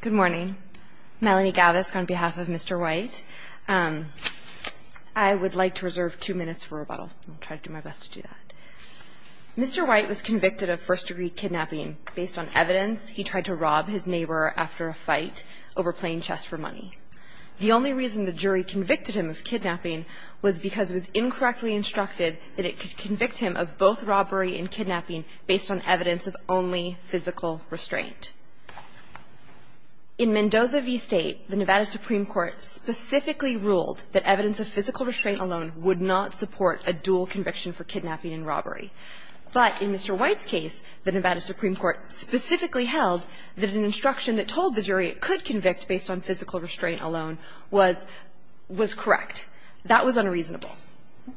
Good morning. Melanie Gavisk on behalf of Mr. White. I would like to reserve two minutes for rebuttal. I'll try to do my best to do that. Mr. White was convicted of first-degree kidnapping based on evidence he tried to rob his neighbor after a fight over playing chess for money. The only reason the jury convicted him of kidnapping was because it was incorrectly instructed that it could convict him of both robbery and kidnapping based on evidence of only physical restraint. In Mendoza v. State, the Nevada Supreme Court specifically ruled that evidence of physical restraint alone would not support a dual conviction for kidnapping and robbery. But in Mr. White's case, the Nevada Supreme Court specifically held that an instruction that told the jury it could convict based on physical restraint alone was correct. That was unreasonable.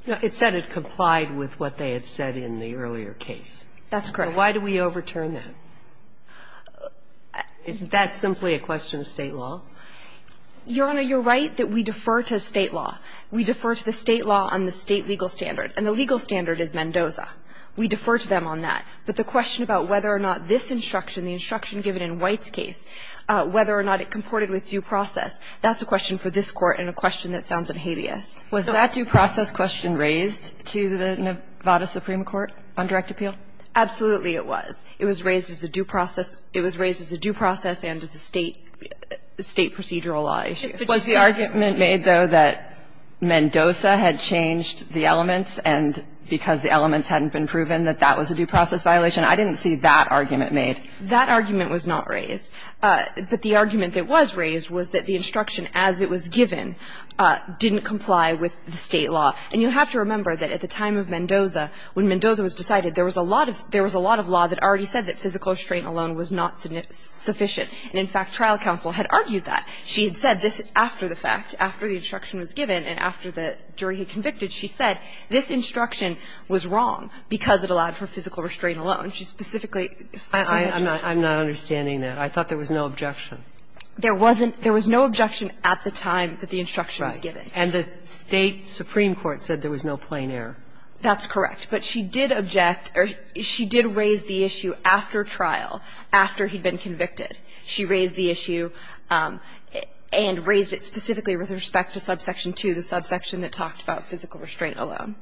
It said it complied with what they had said in the earlier case. That's correct. Why do we overturn that? Isn't that simply a question of State law? Your Honor, you're right that we defer to State law. We defer to the State law on the State legal standard. And the legal standard is Mendoza. We defer to them on that. But the question about whether or not this instruction, the instruction given in White's case, whether or not it comported with due process, that's a question for this Court and a question that sounds hideous. Was that due process question raised to the Nevada Supreme Court on direct appeal? Absolutely it was. It was raised as a due process. It was raised as a due process and as a State procedural law issue. Was the argument made, though, that Mendoza had changed the elements and because the elements hadn't been proven that that was a due process violation? I didn't see that argument made. That argument was not raised. But the argument that was raised was that the instruction as it was given didn't comply with the State law. And you have to remember that at the time of Mendoza, when Mendoza was decided, there was a lot of law that already said that physical restraint alone was not sufficient. And in fact, trial counsel had argued that. She had said this after the fact, after the instruction was given, and after the jury had convicted, she said this instruction was wrong because it allowed for physical restraint alone. She specifically said that. I'm not understanding that. I thought there was no objection. There wasn't. There was no objection at the time that the instruction was given. And the State supreme court said there was no plain error. That's correct. But she did object or she did raise the issue after trial, after he'd been convicted. She raised the issue and raised it specifically with respect to subsection 2, the subsection that talked about physical restraint alone.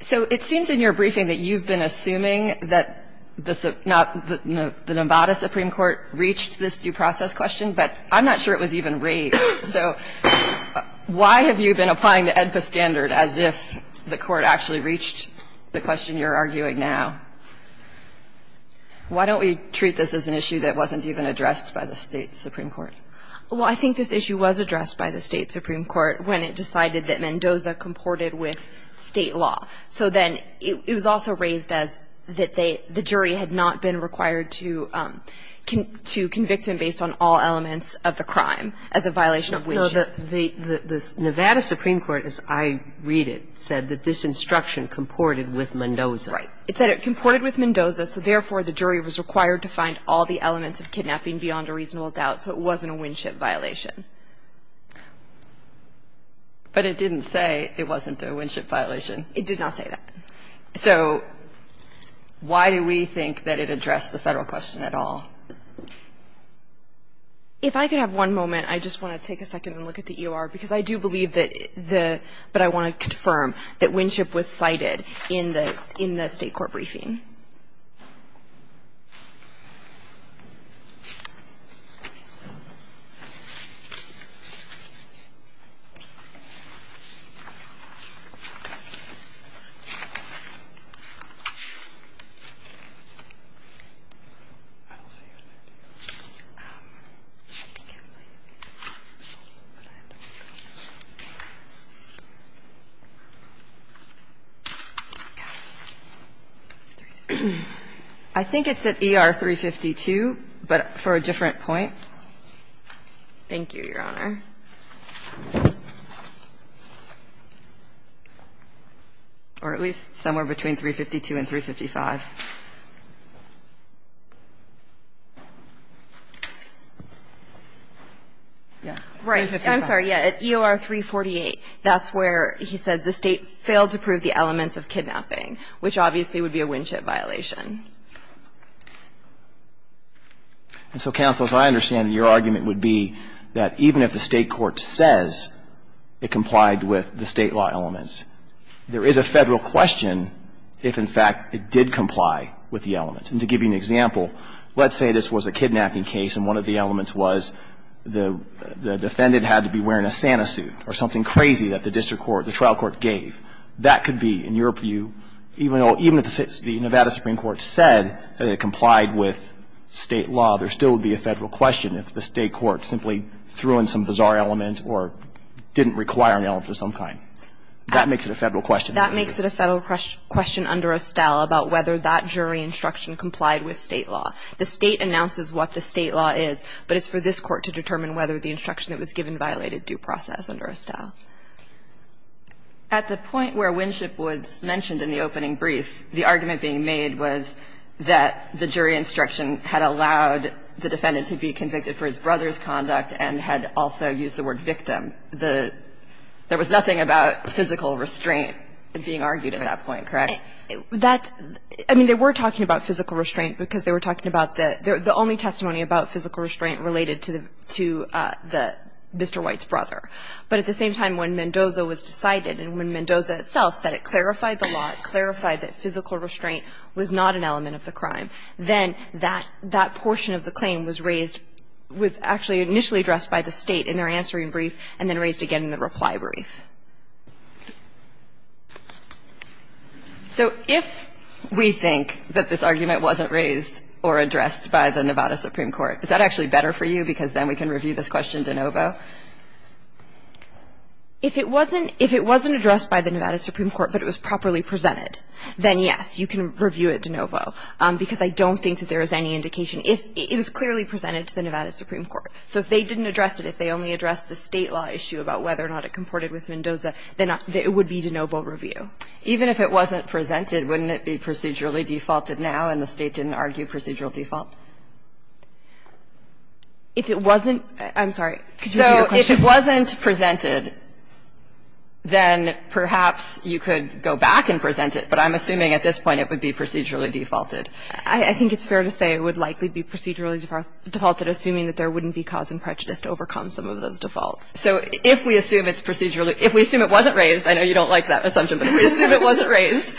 So it seems in your briefing that you've been assuming that the Nevada supreme court reached this due process question, but I'm not sure it was even raised. So why have you been applying the AEDPA standard as if the court actually reached the question you're arguing now? Why don't we treat this as an issue that wasn't even addressed by the State supreme court? Well, I think this issue was addressed by the State supreme court when it decided that Mendoza comported with State law. So then it was also raised as that they, the jury had not been required to convict him based on all elements of the crime as a violation of which. No, the Nevada supreme court, as I read it, said that this instruction comported with Mendoza. Right. It said it comported with Mendoza, so therefore the jury was required to find all the But it didn't say it wasn't a Winship violation. It did not say that. So why do we think that it addressed the Federal question at all? If I could have one moment, I just want to take a second and look at the EOR, because I do believe that the – but I want to confirm that Winship was cited in the State court briefing. I don't see it in there, do you? I think it might be. But I don't know. Okay. Okay. Okay. Okay. Okay. I think it's at EOR 352, but for a different point. Thank you, Your Honor. Or at least somewhere between 352 and 355. Yeah. Right. I'm sorry. Yeah. At EOR 348, that's where he says the State failed to prove the elements of kidnapping, which obviously would be a Winship violation. And so, counsel, as I understand it, your argument would be that even if the State court says it complied with the State law elements, there is a Federal question if, in fact, it did comply with the elements. And to give you an example, let's say this was a kidnapping case and one of the elements was the defendant had to be wearing a Santa suit or something crazy that the district trial court gave. That could be, in your view, even if the Nevada Supreme Court said that it complied with State law, there still would be a Federal question if the State court simply threw in some bizarre element or didn't require an element of some kind. That makes it a Federal question. That makes it a Federal question under Estelle about whether that jury instruction complied with State law. The State announces what the State law is, but it's for this court to determine whether the instruction that was given violated due process under Estelle. At the point where Winship was mentioned in the opening brief, the argument being made was that the jury instruction had allowed the defendant to be convicted for his brother's conduct and had also used the word victim. There was nothing about physical restraint being argued at that point, correct? That's – I mean, they were talking about physical restraint because they were talking about the – the only testimony about physical restraint related to the – Mr. White's brother. But at the same time, when Mendoza was decided and when Mendoza itself said it clarified the law, clarified that physical restraint was not an element of the crime, then that – that portion of the claim was raised – was actually initially addressed by the State in their answering brief and then raised again in the reply brief. So if we think that this argument wasn't raised or addressed by the Nevada Supreme Court, is that actually better for you? Because then we can review this question de novo. If it wasn't – if it wasn't addressed by the Nevada Supreme Court, but it was properly presented, then, yes, you can review it de novo, because I don't think that there is any indication. It was clearly presented to the Nevada Supreme Court. So if they didn't address it, if they only addressed the State law issue about whether or not it comported with Mendoza, then it would be de novo review. Even if it wasn't presented, wouldn't it be procedurally defaulted now and the State didn't argue procedural default? If it wasn't – I'm sorry. Could you repeat your question? So if it wasn't presented, then perhaps you could go back and present it, but I'm assuming at this point it would be procedurally defaulted. I think it's fair to say it would likely be procedurally defaulted, assuming that there wouldn't be cause and prejudice to overcome some of those defaults. So if we assume it's procedurally – if we assume it wasn't raised – I know you don't like that assumption, but if we assume it wasn't raised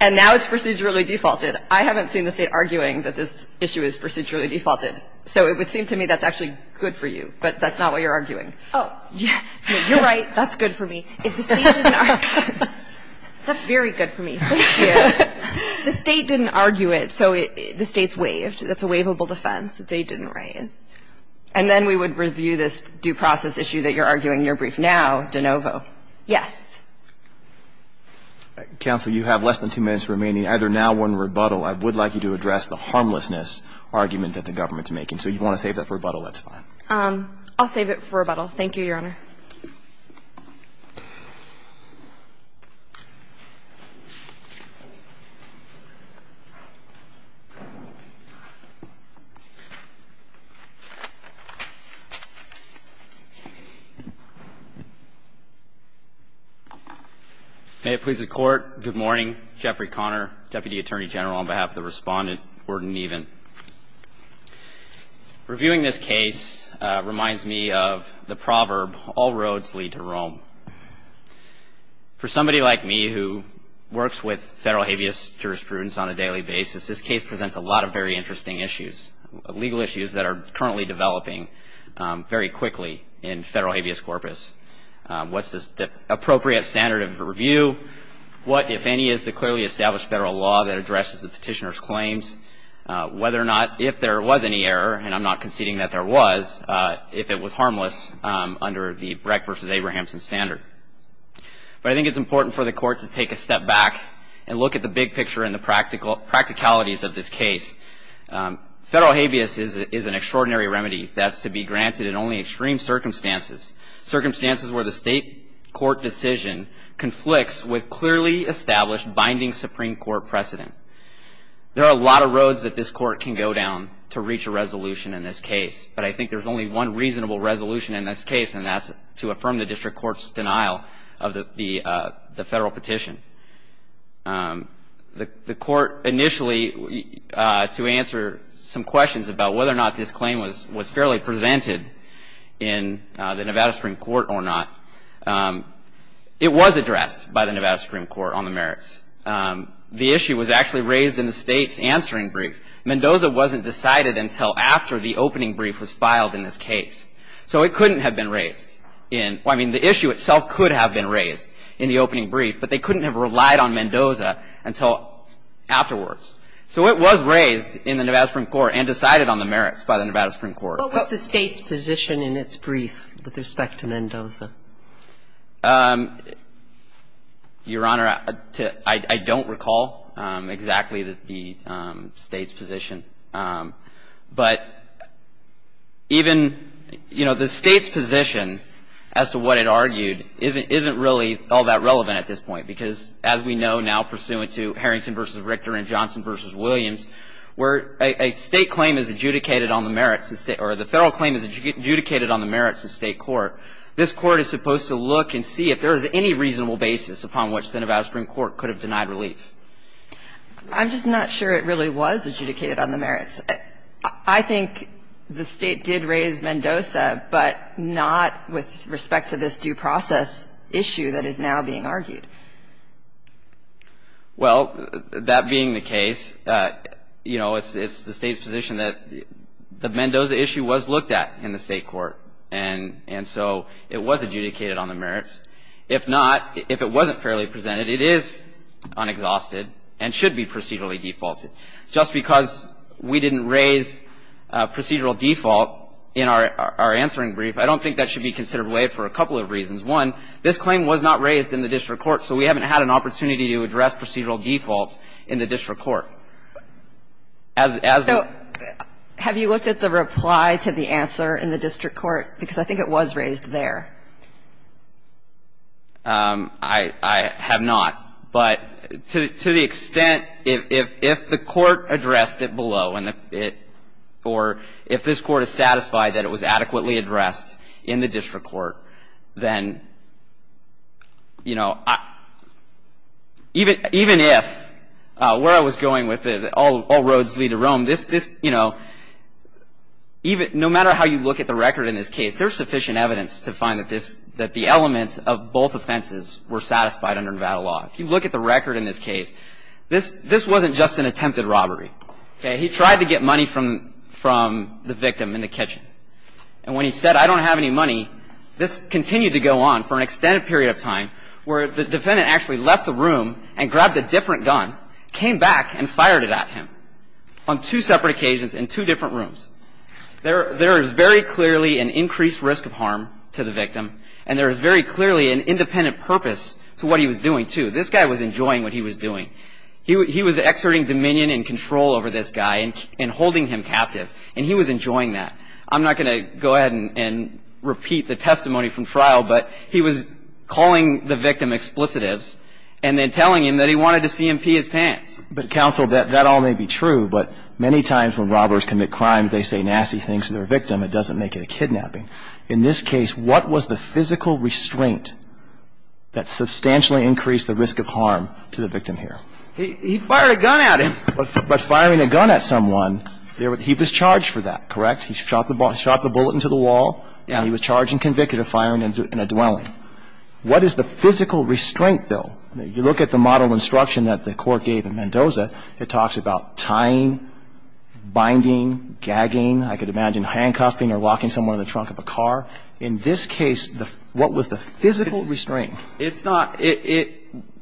and now it's procedurally defaulted, I haven't seen the State arguing that this issue is procedurally defaulted. So it would seem to me that's actually good for you, but that's not what you're arguing. Oh, yeah. You're right. That's good for me. If the State didn't argue it, that's very good for me. Thank you. If the State didn't argue it, so the State's waived. That's a waivable defense. They didn't raise. And then we would review this due process issue that you're arguing. You're briefed now, de novo. Yes. Counsel, you have less than two minutes remaining. Either now or in rebuttal, I would like you to address the harmlessness argument that the government's making. So if you want to save that for rebuttal, that's fine. I'll save it for rebuttal. Thank you, Your Honor. May it please the Court. Good morning. Jeffrey Conner, Deputy Attorney General, on behalf of the Respondent. Word in even. Reviewing this case reminds me of the proverb, all roads lead to Rome. For somebody like me who works with federal habeas jurisprudence on a daily basis, this case presents a lot of very interesting issues, legal issues that are currently developing very quickly in federal habeas corpus. What's the appropriate standard of review? What, if any, is the clearly established federal law that addresses the whether or not, if there was any error, and I'm not conceding that there was, if it was harmless under the Breck versus Abrahamson standard. But I think it's important for the Court to take a step back and look at the big picture and the practicalities of this case. Federal habeas is an extraordinary remedy that's to be granted in only extreme circumstances, circumstances where the state court decision conflicts with clearly established binding Supreme Court precedent. There are a lot of roads that this Court can go down to reach a resolution in this case. But I think there's only one reasonable resolution in this case, and that's to affirm the district court's denial of the federal petition. The Court initially, to answer some questions about whether or not this claim was fairly presented in the Nevada Supreme Court or not, it was addressed by the Nevada Supreme Court on the merits. The issue was actually raised in the State's answering brief. Mendoza wasn't decided until after the opening brief was filed in this case. So it couldn't have been raised in, I mean, the issue itself could have been raised in the opening brief, but they couldn't have relied on Mendoza until afterwards. So it was raised in the Nevada Supreme Court and decided on the merits by the Nevada Supreme Court. What was the State's position in its brief with respect to Mendoza? Your Honor, I don't recall exactly the State's position. But even, you know, the State's position as to what it argued isn't really all that relevant at this point, because as we know now pursuant to Harrington v. Richter and Johnson v. Williams, where a State claim is adjudicated on the merits of State court, this Court is supposed to look and see if there is any reasonable basis upon which the Nevada Supreme Court could have denied relief. I'm just not sure it really was adjudicated on the merits. I think the State did raise Mendoza, but not with respect to this due process issue that is now being argued. Well, that being the case, you know, it's the State's position that the Mendoza issue was looked at in the State court. And so it was adjudicated on the merits. If not, if it wasn't fairly presented, it is unexhausted and should be procedurally defaulted. Just because we didn't raise procedural default in our answering brief, I don't think that should be considered waived for a couple of reasons. One, this claim was not raised in the district court, so we haven't had an opportunity to address procedural default in the district court. So as the ---- So have you looked at the reply to the answer in the district court? Because I think it was raised there. I have not. But to the extent if the court addressed it below, or if this Court is satisfied that it was adequately addressed in the district court, then, you know, even if where Nevada was going with it, all roads lead to Rome, this, you know, no matter how you look at the record in this case, there's sufficient evidence to find that the elements of both offenses were satisfied under Nevada law. If you look at the record in this case, this wasn't just an attempted robbery. He tried to get money from the victim in the kitchen. And when he said, I don't have any money, this continued to go on for an extended period of time, where the defendant actually left the room and grabbed a different gun, came back and fired it at him on two separate occasions in two different rooms. There is very clearly an increased risk of harm to the victim, and there is very clearly an independent purpose to what he was doing, too. This guy was enjoying what he was doing. He was exerting dominion and control over this guy and holding him captive, and he was enjoying that. And I'm not going to go ahead and repeat the testimony from trial, but he was calling the victim explicitives and then telling him that he wanted to see him pee his pants. But, counsel, that all may be true, but many times when robbers commit crimes, they say nasty things to their victim. It doesn't make it a kidnapping. In this case, what was the physical restraint that substantially increased the risk of harm to the victim here? He fired a gun at him. But firing a gun at someone, he was charged for that, correct? He shot the bullet into the wall. Yeah. He was charged and convicted of firing in a dwelling. What is the physical restraint, though? You look at the model instruction that the Court gave in Mendoza. It talks about tying, binding, gagging. I could imagine handcuffing or locking someone in the trunk of a car. In this case, what was the physical restraint? It's not. It's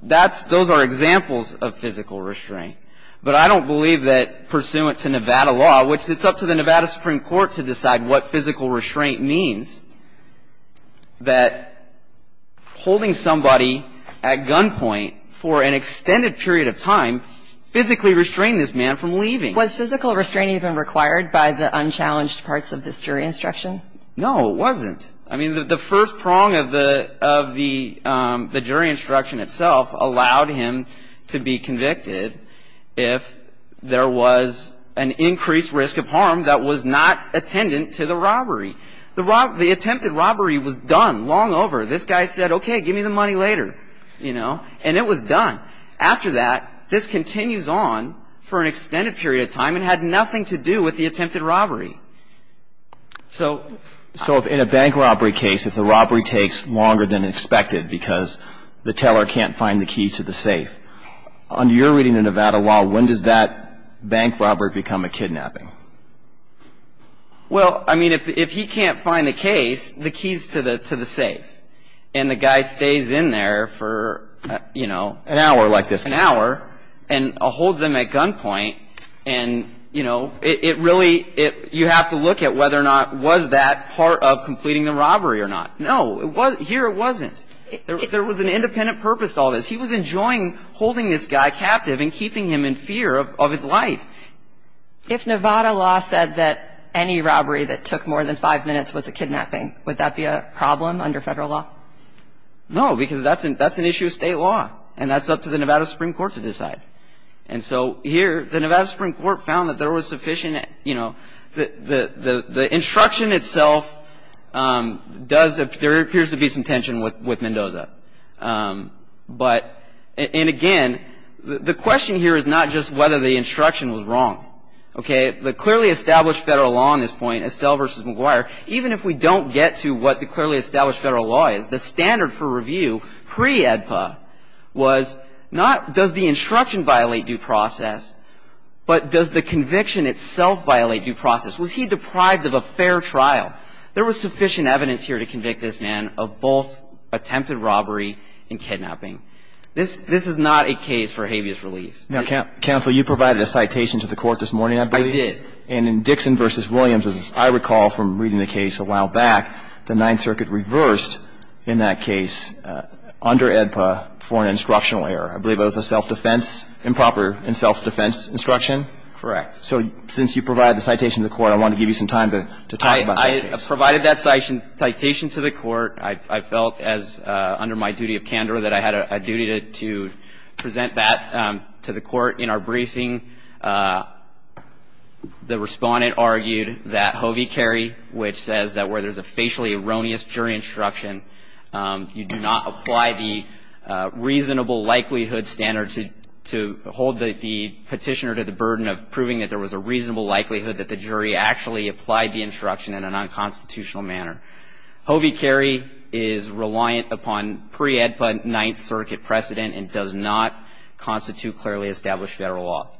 not. Those are examples of physical restraint. But I don't believe that pursuant to Nevada law, which it's up to the Nevada Supreme Court to decide what physical restraint means, that holding somebody at gunpoint for an extended period of time physically restrained this man from leaving. Was physical restraint even required by the unchallenged parts of this jury instruction? No, it wasn't. I mean, the first prong of the jury instruction itself allowed him to be convicted if there was an increased risk of harm that was not attendant to the robbery. The attempted robbery was done long over. This guy said, okay, give me the money later, you know, and it was done. After that, this continues on for an extended period of time and had nothing to do with the attempted robbery. So if in a bank robbery case, if the robbery takes longer than expected because the teller can't find the keys to the safe, under your reading of Nevada law, when does that bank robbery become a kidnapping? Well, I mean, if he can't find the case, the key is to the safe. And the guy stays in there for, you know, an hour and holds him at gunpoint. And, you know, it really you have to look at whether or not was that part of completing the robbery or not. No, here it wasn't. There was an independent purpose to all this. He was enjoying holding this guy captive and keeping him in fear of his life. If Nevada law said that any robbery that took more than five minutes was a kidnapping, would that be a problem under Federal law? No, because that's an issue of State law. And that's up to the Nevada Supreme Court to decide. And so here the Nevada Supreme Court found that there was sufficient, you know, the instruction itself does, there appears to be some tension with Mendoza. But, and again, the question here is not just whether the instruction was wrong. Okay. The clearly established Federal law on this point, Estelle v. McGuire, even if we don't get to what the clearly established Federal law is, the standard for review pre-EDPA was not does the instruction violate due process, but does the conviction itself violate due process? Was he deprived of a fair trial? There was sufficient evidence here to convict this man of both attempted robbery and kidnapping. This is not a case for habeas relief. Now, counsel, you provided a citation to the Court this morning, I believe. I did. And in Dixon v. Williams, as I recall from reading the case a while back, the Ninth Circuit reversed in that case under EDPA for an instructional error. I believe that was a self-defense, improper and self-defense instruction? Correct. So since you provided the citation to the Court, I wanted to give you some time to talk about that case. I provided that citation to the Court. I felt as under my duty of candor that I had a duty to present that to the Court. In our briefing, the Respondent argued that Hovey-Carrie, which says that where there's a facially erroneous jury instruction, you do not apply the reasonable likelihood standard. I believe that there was a reasonable likelihood that the jury actually applied the instruction in an unconstitutional manner. Hovey-Carrie is reliant upon pre-EDPA Ninth Circuit precedent and does not constitute clearly established Federal law.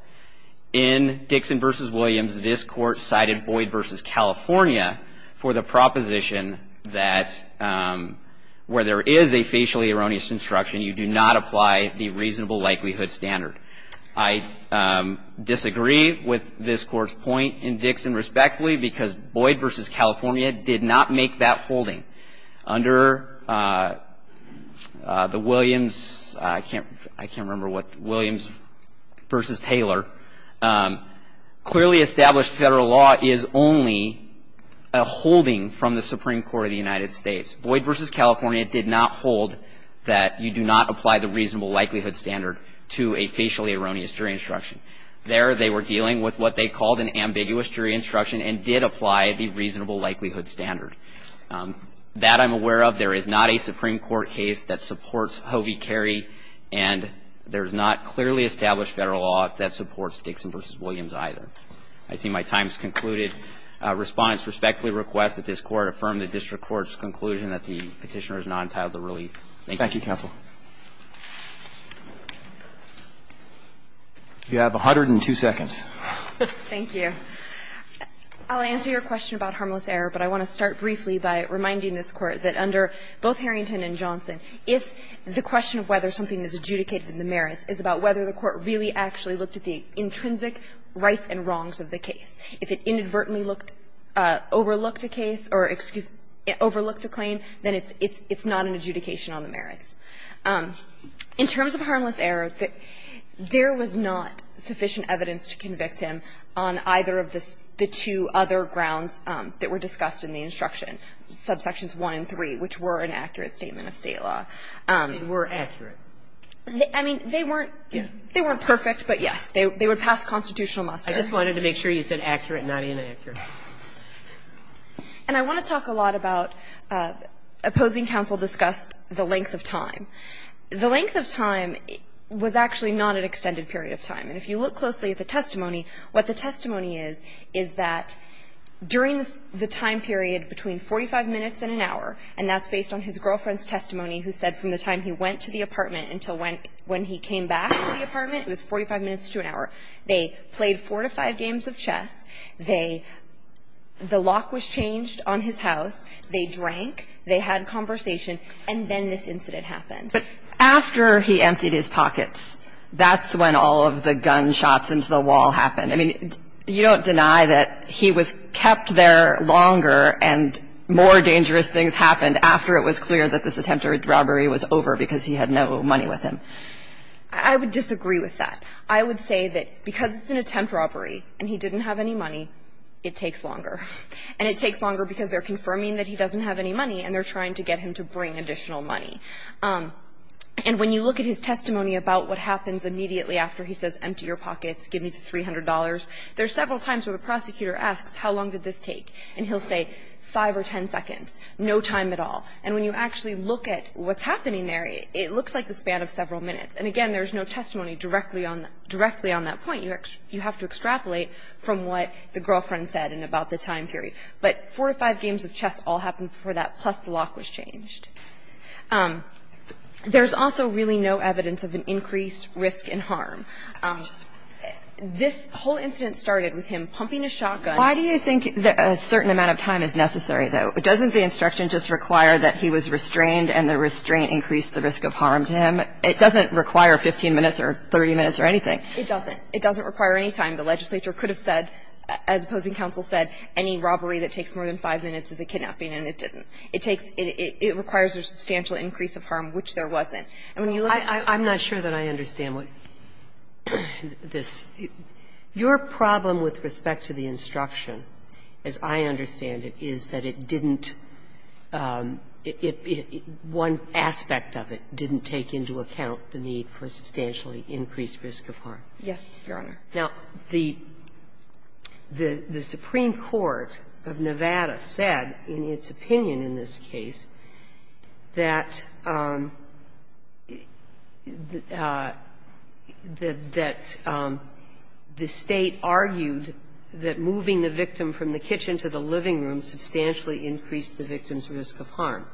In Dixon v. Williams, this Court cited Boyd v. California for the proposition that where there is a facially erroneous instruction, you do not apply the reasonable likelihood standard. I disagree with this Court's point in Dixon respectfully because Boyd v. California did not make that holding. Under the Williams, I can't remember what, Williams v. Taylor, clearly established Federal law is only a holding from the Supreme Court of the United States. Boyd v. California did not hold that you do not apply the reasonable likelihood standard to a facially erroneous jury instruction. There they were dealing with what they called an ambiguous jury instruction and did apply the reasonable likelihood standard. That I'm aware of. There is not a Supreme Court case that supports Hovey-Carrie, and there's not clearly established Federal law that supports Dixon v. Williams either. I see my time has concluded. Respondents respectfully request that this Court affirm the district court's conclusion that the Petitioner is not entitled to relief. Thank you. Roberts. Thank you, counsel. You have 102 seconds. Thank you. I'll answer your question about harmless error, but I want to start briefly by reminding this Court that under both Harrington and Johnson, if the question of whether something is adjudicated in the merits is about whether the Court really actually looked at the intrinsic rights and wrongs of the case. If it inadvertently overlooked a case or overlooked a claim, then it's not an adjudication on the merits. In terms of harmless error, there was not sufficient evidence to convict him on either of the two other grounds that were discussed in the instruction. Subsections 1 and 3, which were an accurate statement of State law, were accurate. I mean, they weren't perfect, but yes, they would pass constitutional muster. I just wanted to make sure you said accurate, not inaccurate. And I want to talk a lot about opposing counsel discussed the length of time. The length of time was actually not an extended period of time. And if you look closely at the testimony, what the testimony is, is that during the time period between 45 minutes and an hour, and that's based on his girlfriend's testimony, he didn't leave the apartment until when he came back to the apartment. It was 45 minutes to an hour. They played four to five games of chess. They – the lock was changed on his house. They drank. They had conversation. And then this incident happened. But after he emptied his pockets, that's when all of the gunshots into the wall happened. I mean, you don't deny that he was kept there longer and more dangerous things happened after it was clear that this attempt at robbery was over because he had no money with him. I would disagree with that. I would say that because it's an attempt robbery and he didn't have any money, it takes longer. And it takes longer because they're confirming that he doesn't have any money and they're trying to get him to bring additional money. And when you look at his testimony about what happens immediately after he says, And he'll say five or ten seconds, no time at all. And when you actually look at what's happening there, it looks like the span of several minutes. And, again, there's no testimony directly on that point. You have to extrapolate from what the girlfriend said and about the time period. But four to five games of chess all happened before that, plus the lock was changed. There's also really no evidence of an increased risk and harm. This whole incident started with him pumping a shotgun. Why do you think a certain amount of time is necessary, though? Doesn't the instruction just require that he was restrained and the restraint increased the risk of harm to him? It doesn't require 15 minutes or 30 minutes or anything. It doesn't. It doesn't require any time. The legislature could have said, as opposing counsel said, any robbery that takes more than five minutes is a kidnapping, and it didn't. It takes – it requires a substantial increase of harm, which there wasn't. I'm not sure that I understand what this – your problem with respect to the instruction, as I understand it, is that it didn't – one aspect of it didn't take into account the need for a substantially increased risk of harm. Yes, Your Honor. Now, the Supreme Court of Nevada said in its opinion in this case that the State argued that moving the victim from the kitchen to the living room substantially increased the victim's risk of harm.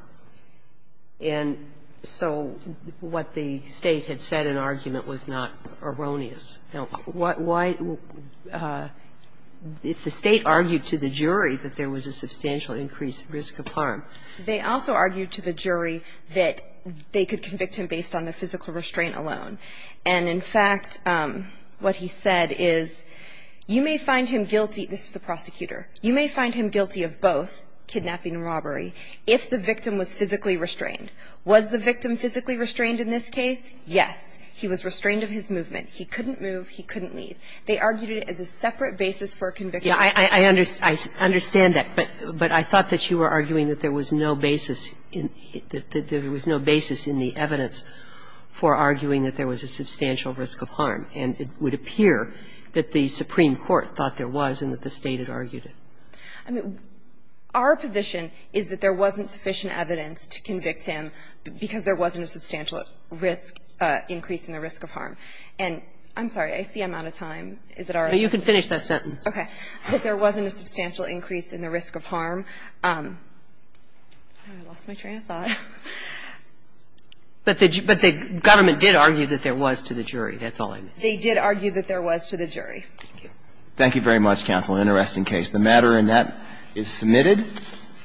And so what the State had said in argument was not erroneous. Now, why – if the State argued to the jury that there was a substantial increased risk of harm? They also argued to the jury that they could convict him based on the physical restraint alone. And in fact, what he said is, you may find him guilty – this is the prosecutor – you may find him guilty of both, kidnapping and robbery, if the victim was physically restrained. Was the victim physically restrained in this case? Yes. He was restrained of his movement. He couldn't move. He couldn't leave. They argued it as a separate basis for a conviction. Yeah, I understand that. But I thought that you were arguing that there was no basis in – that there was no basis in the evidence for arguing that there was a substantial risk of harm. And it would appear that the Supreme Court thought there was and that the State had argued it. I mean, our position is that there wasn't sufficient evidence to convict him because there wasn't a substantial risk – increase in the risk of harm. And I'm sorry. I see I'm out of time. Is it all right? But you can finish that sentence. Okay. That there wasn't a substantial increase in the risk of harm. I lost my train of thought. But the government did argue that there was to the jury. That's all I missed. They did argue that there was to the jury. Thank you. Thank you very much, counsel. Interesting case. The matter in that is submitted.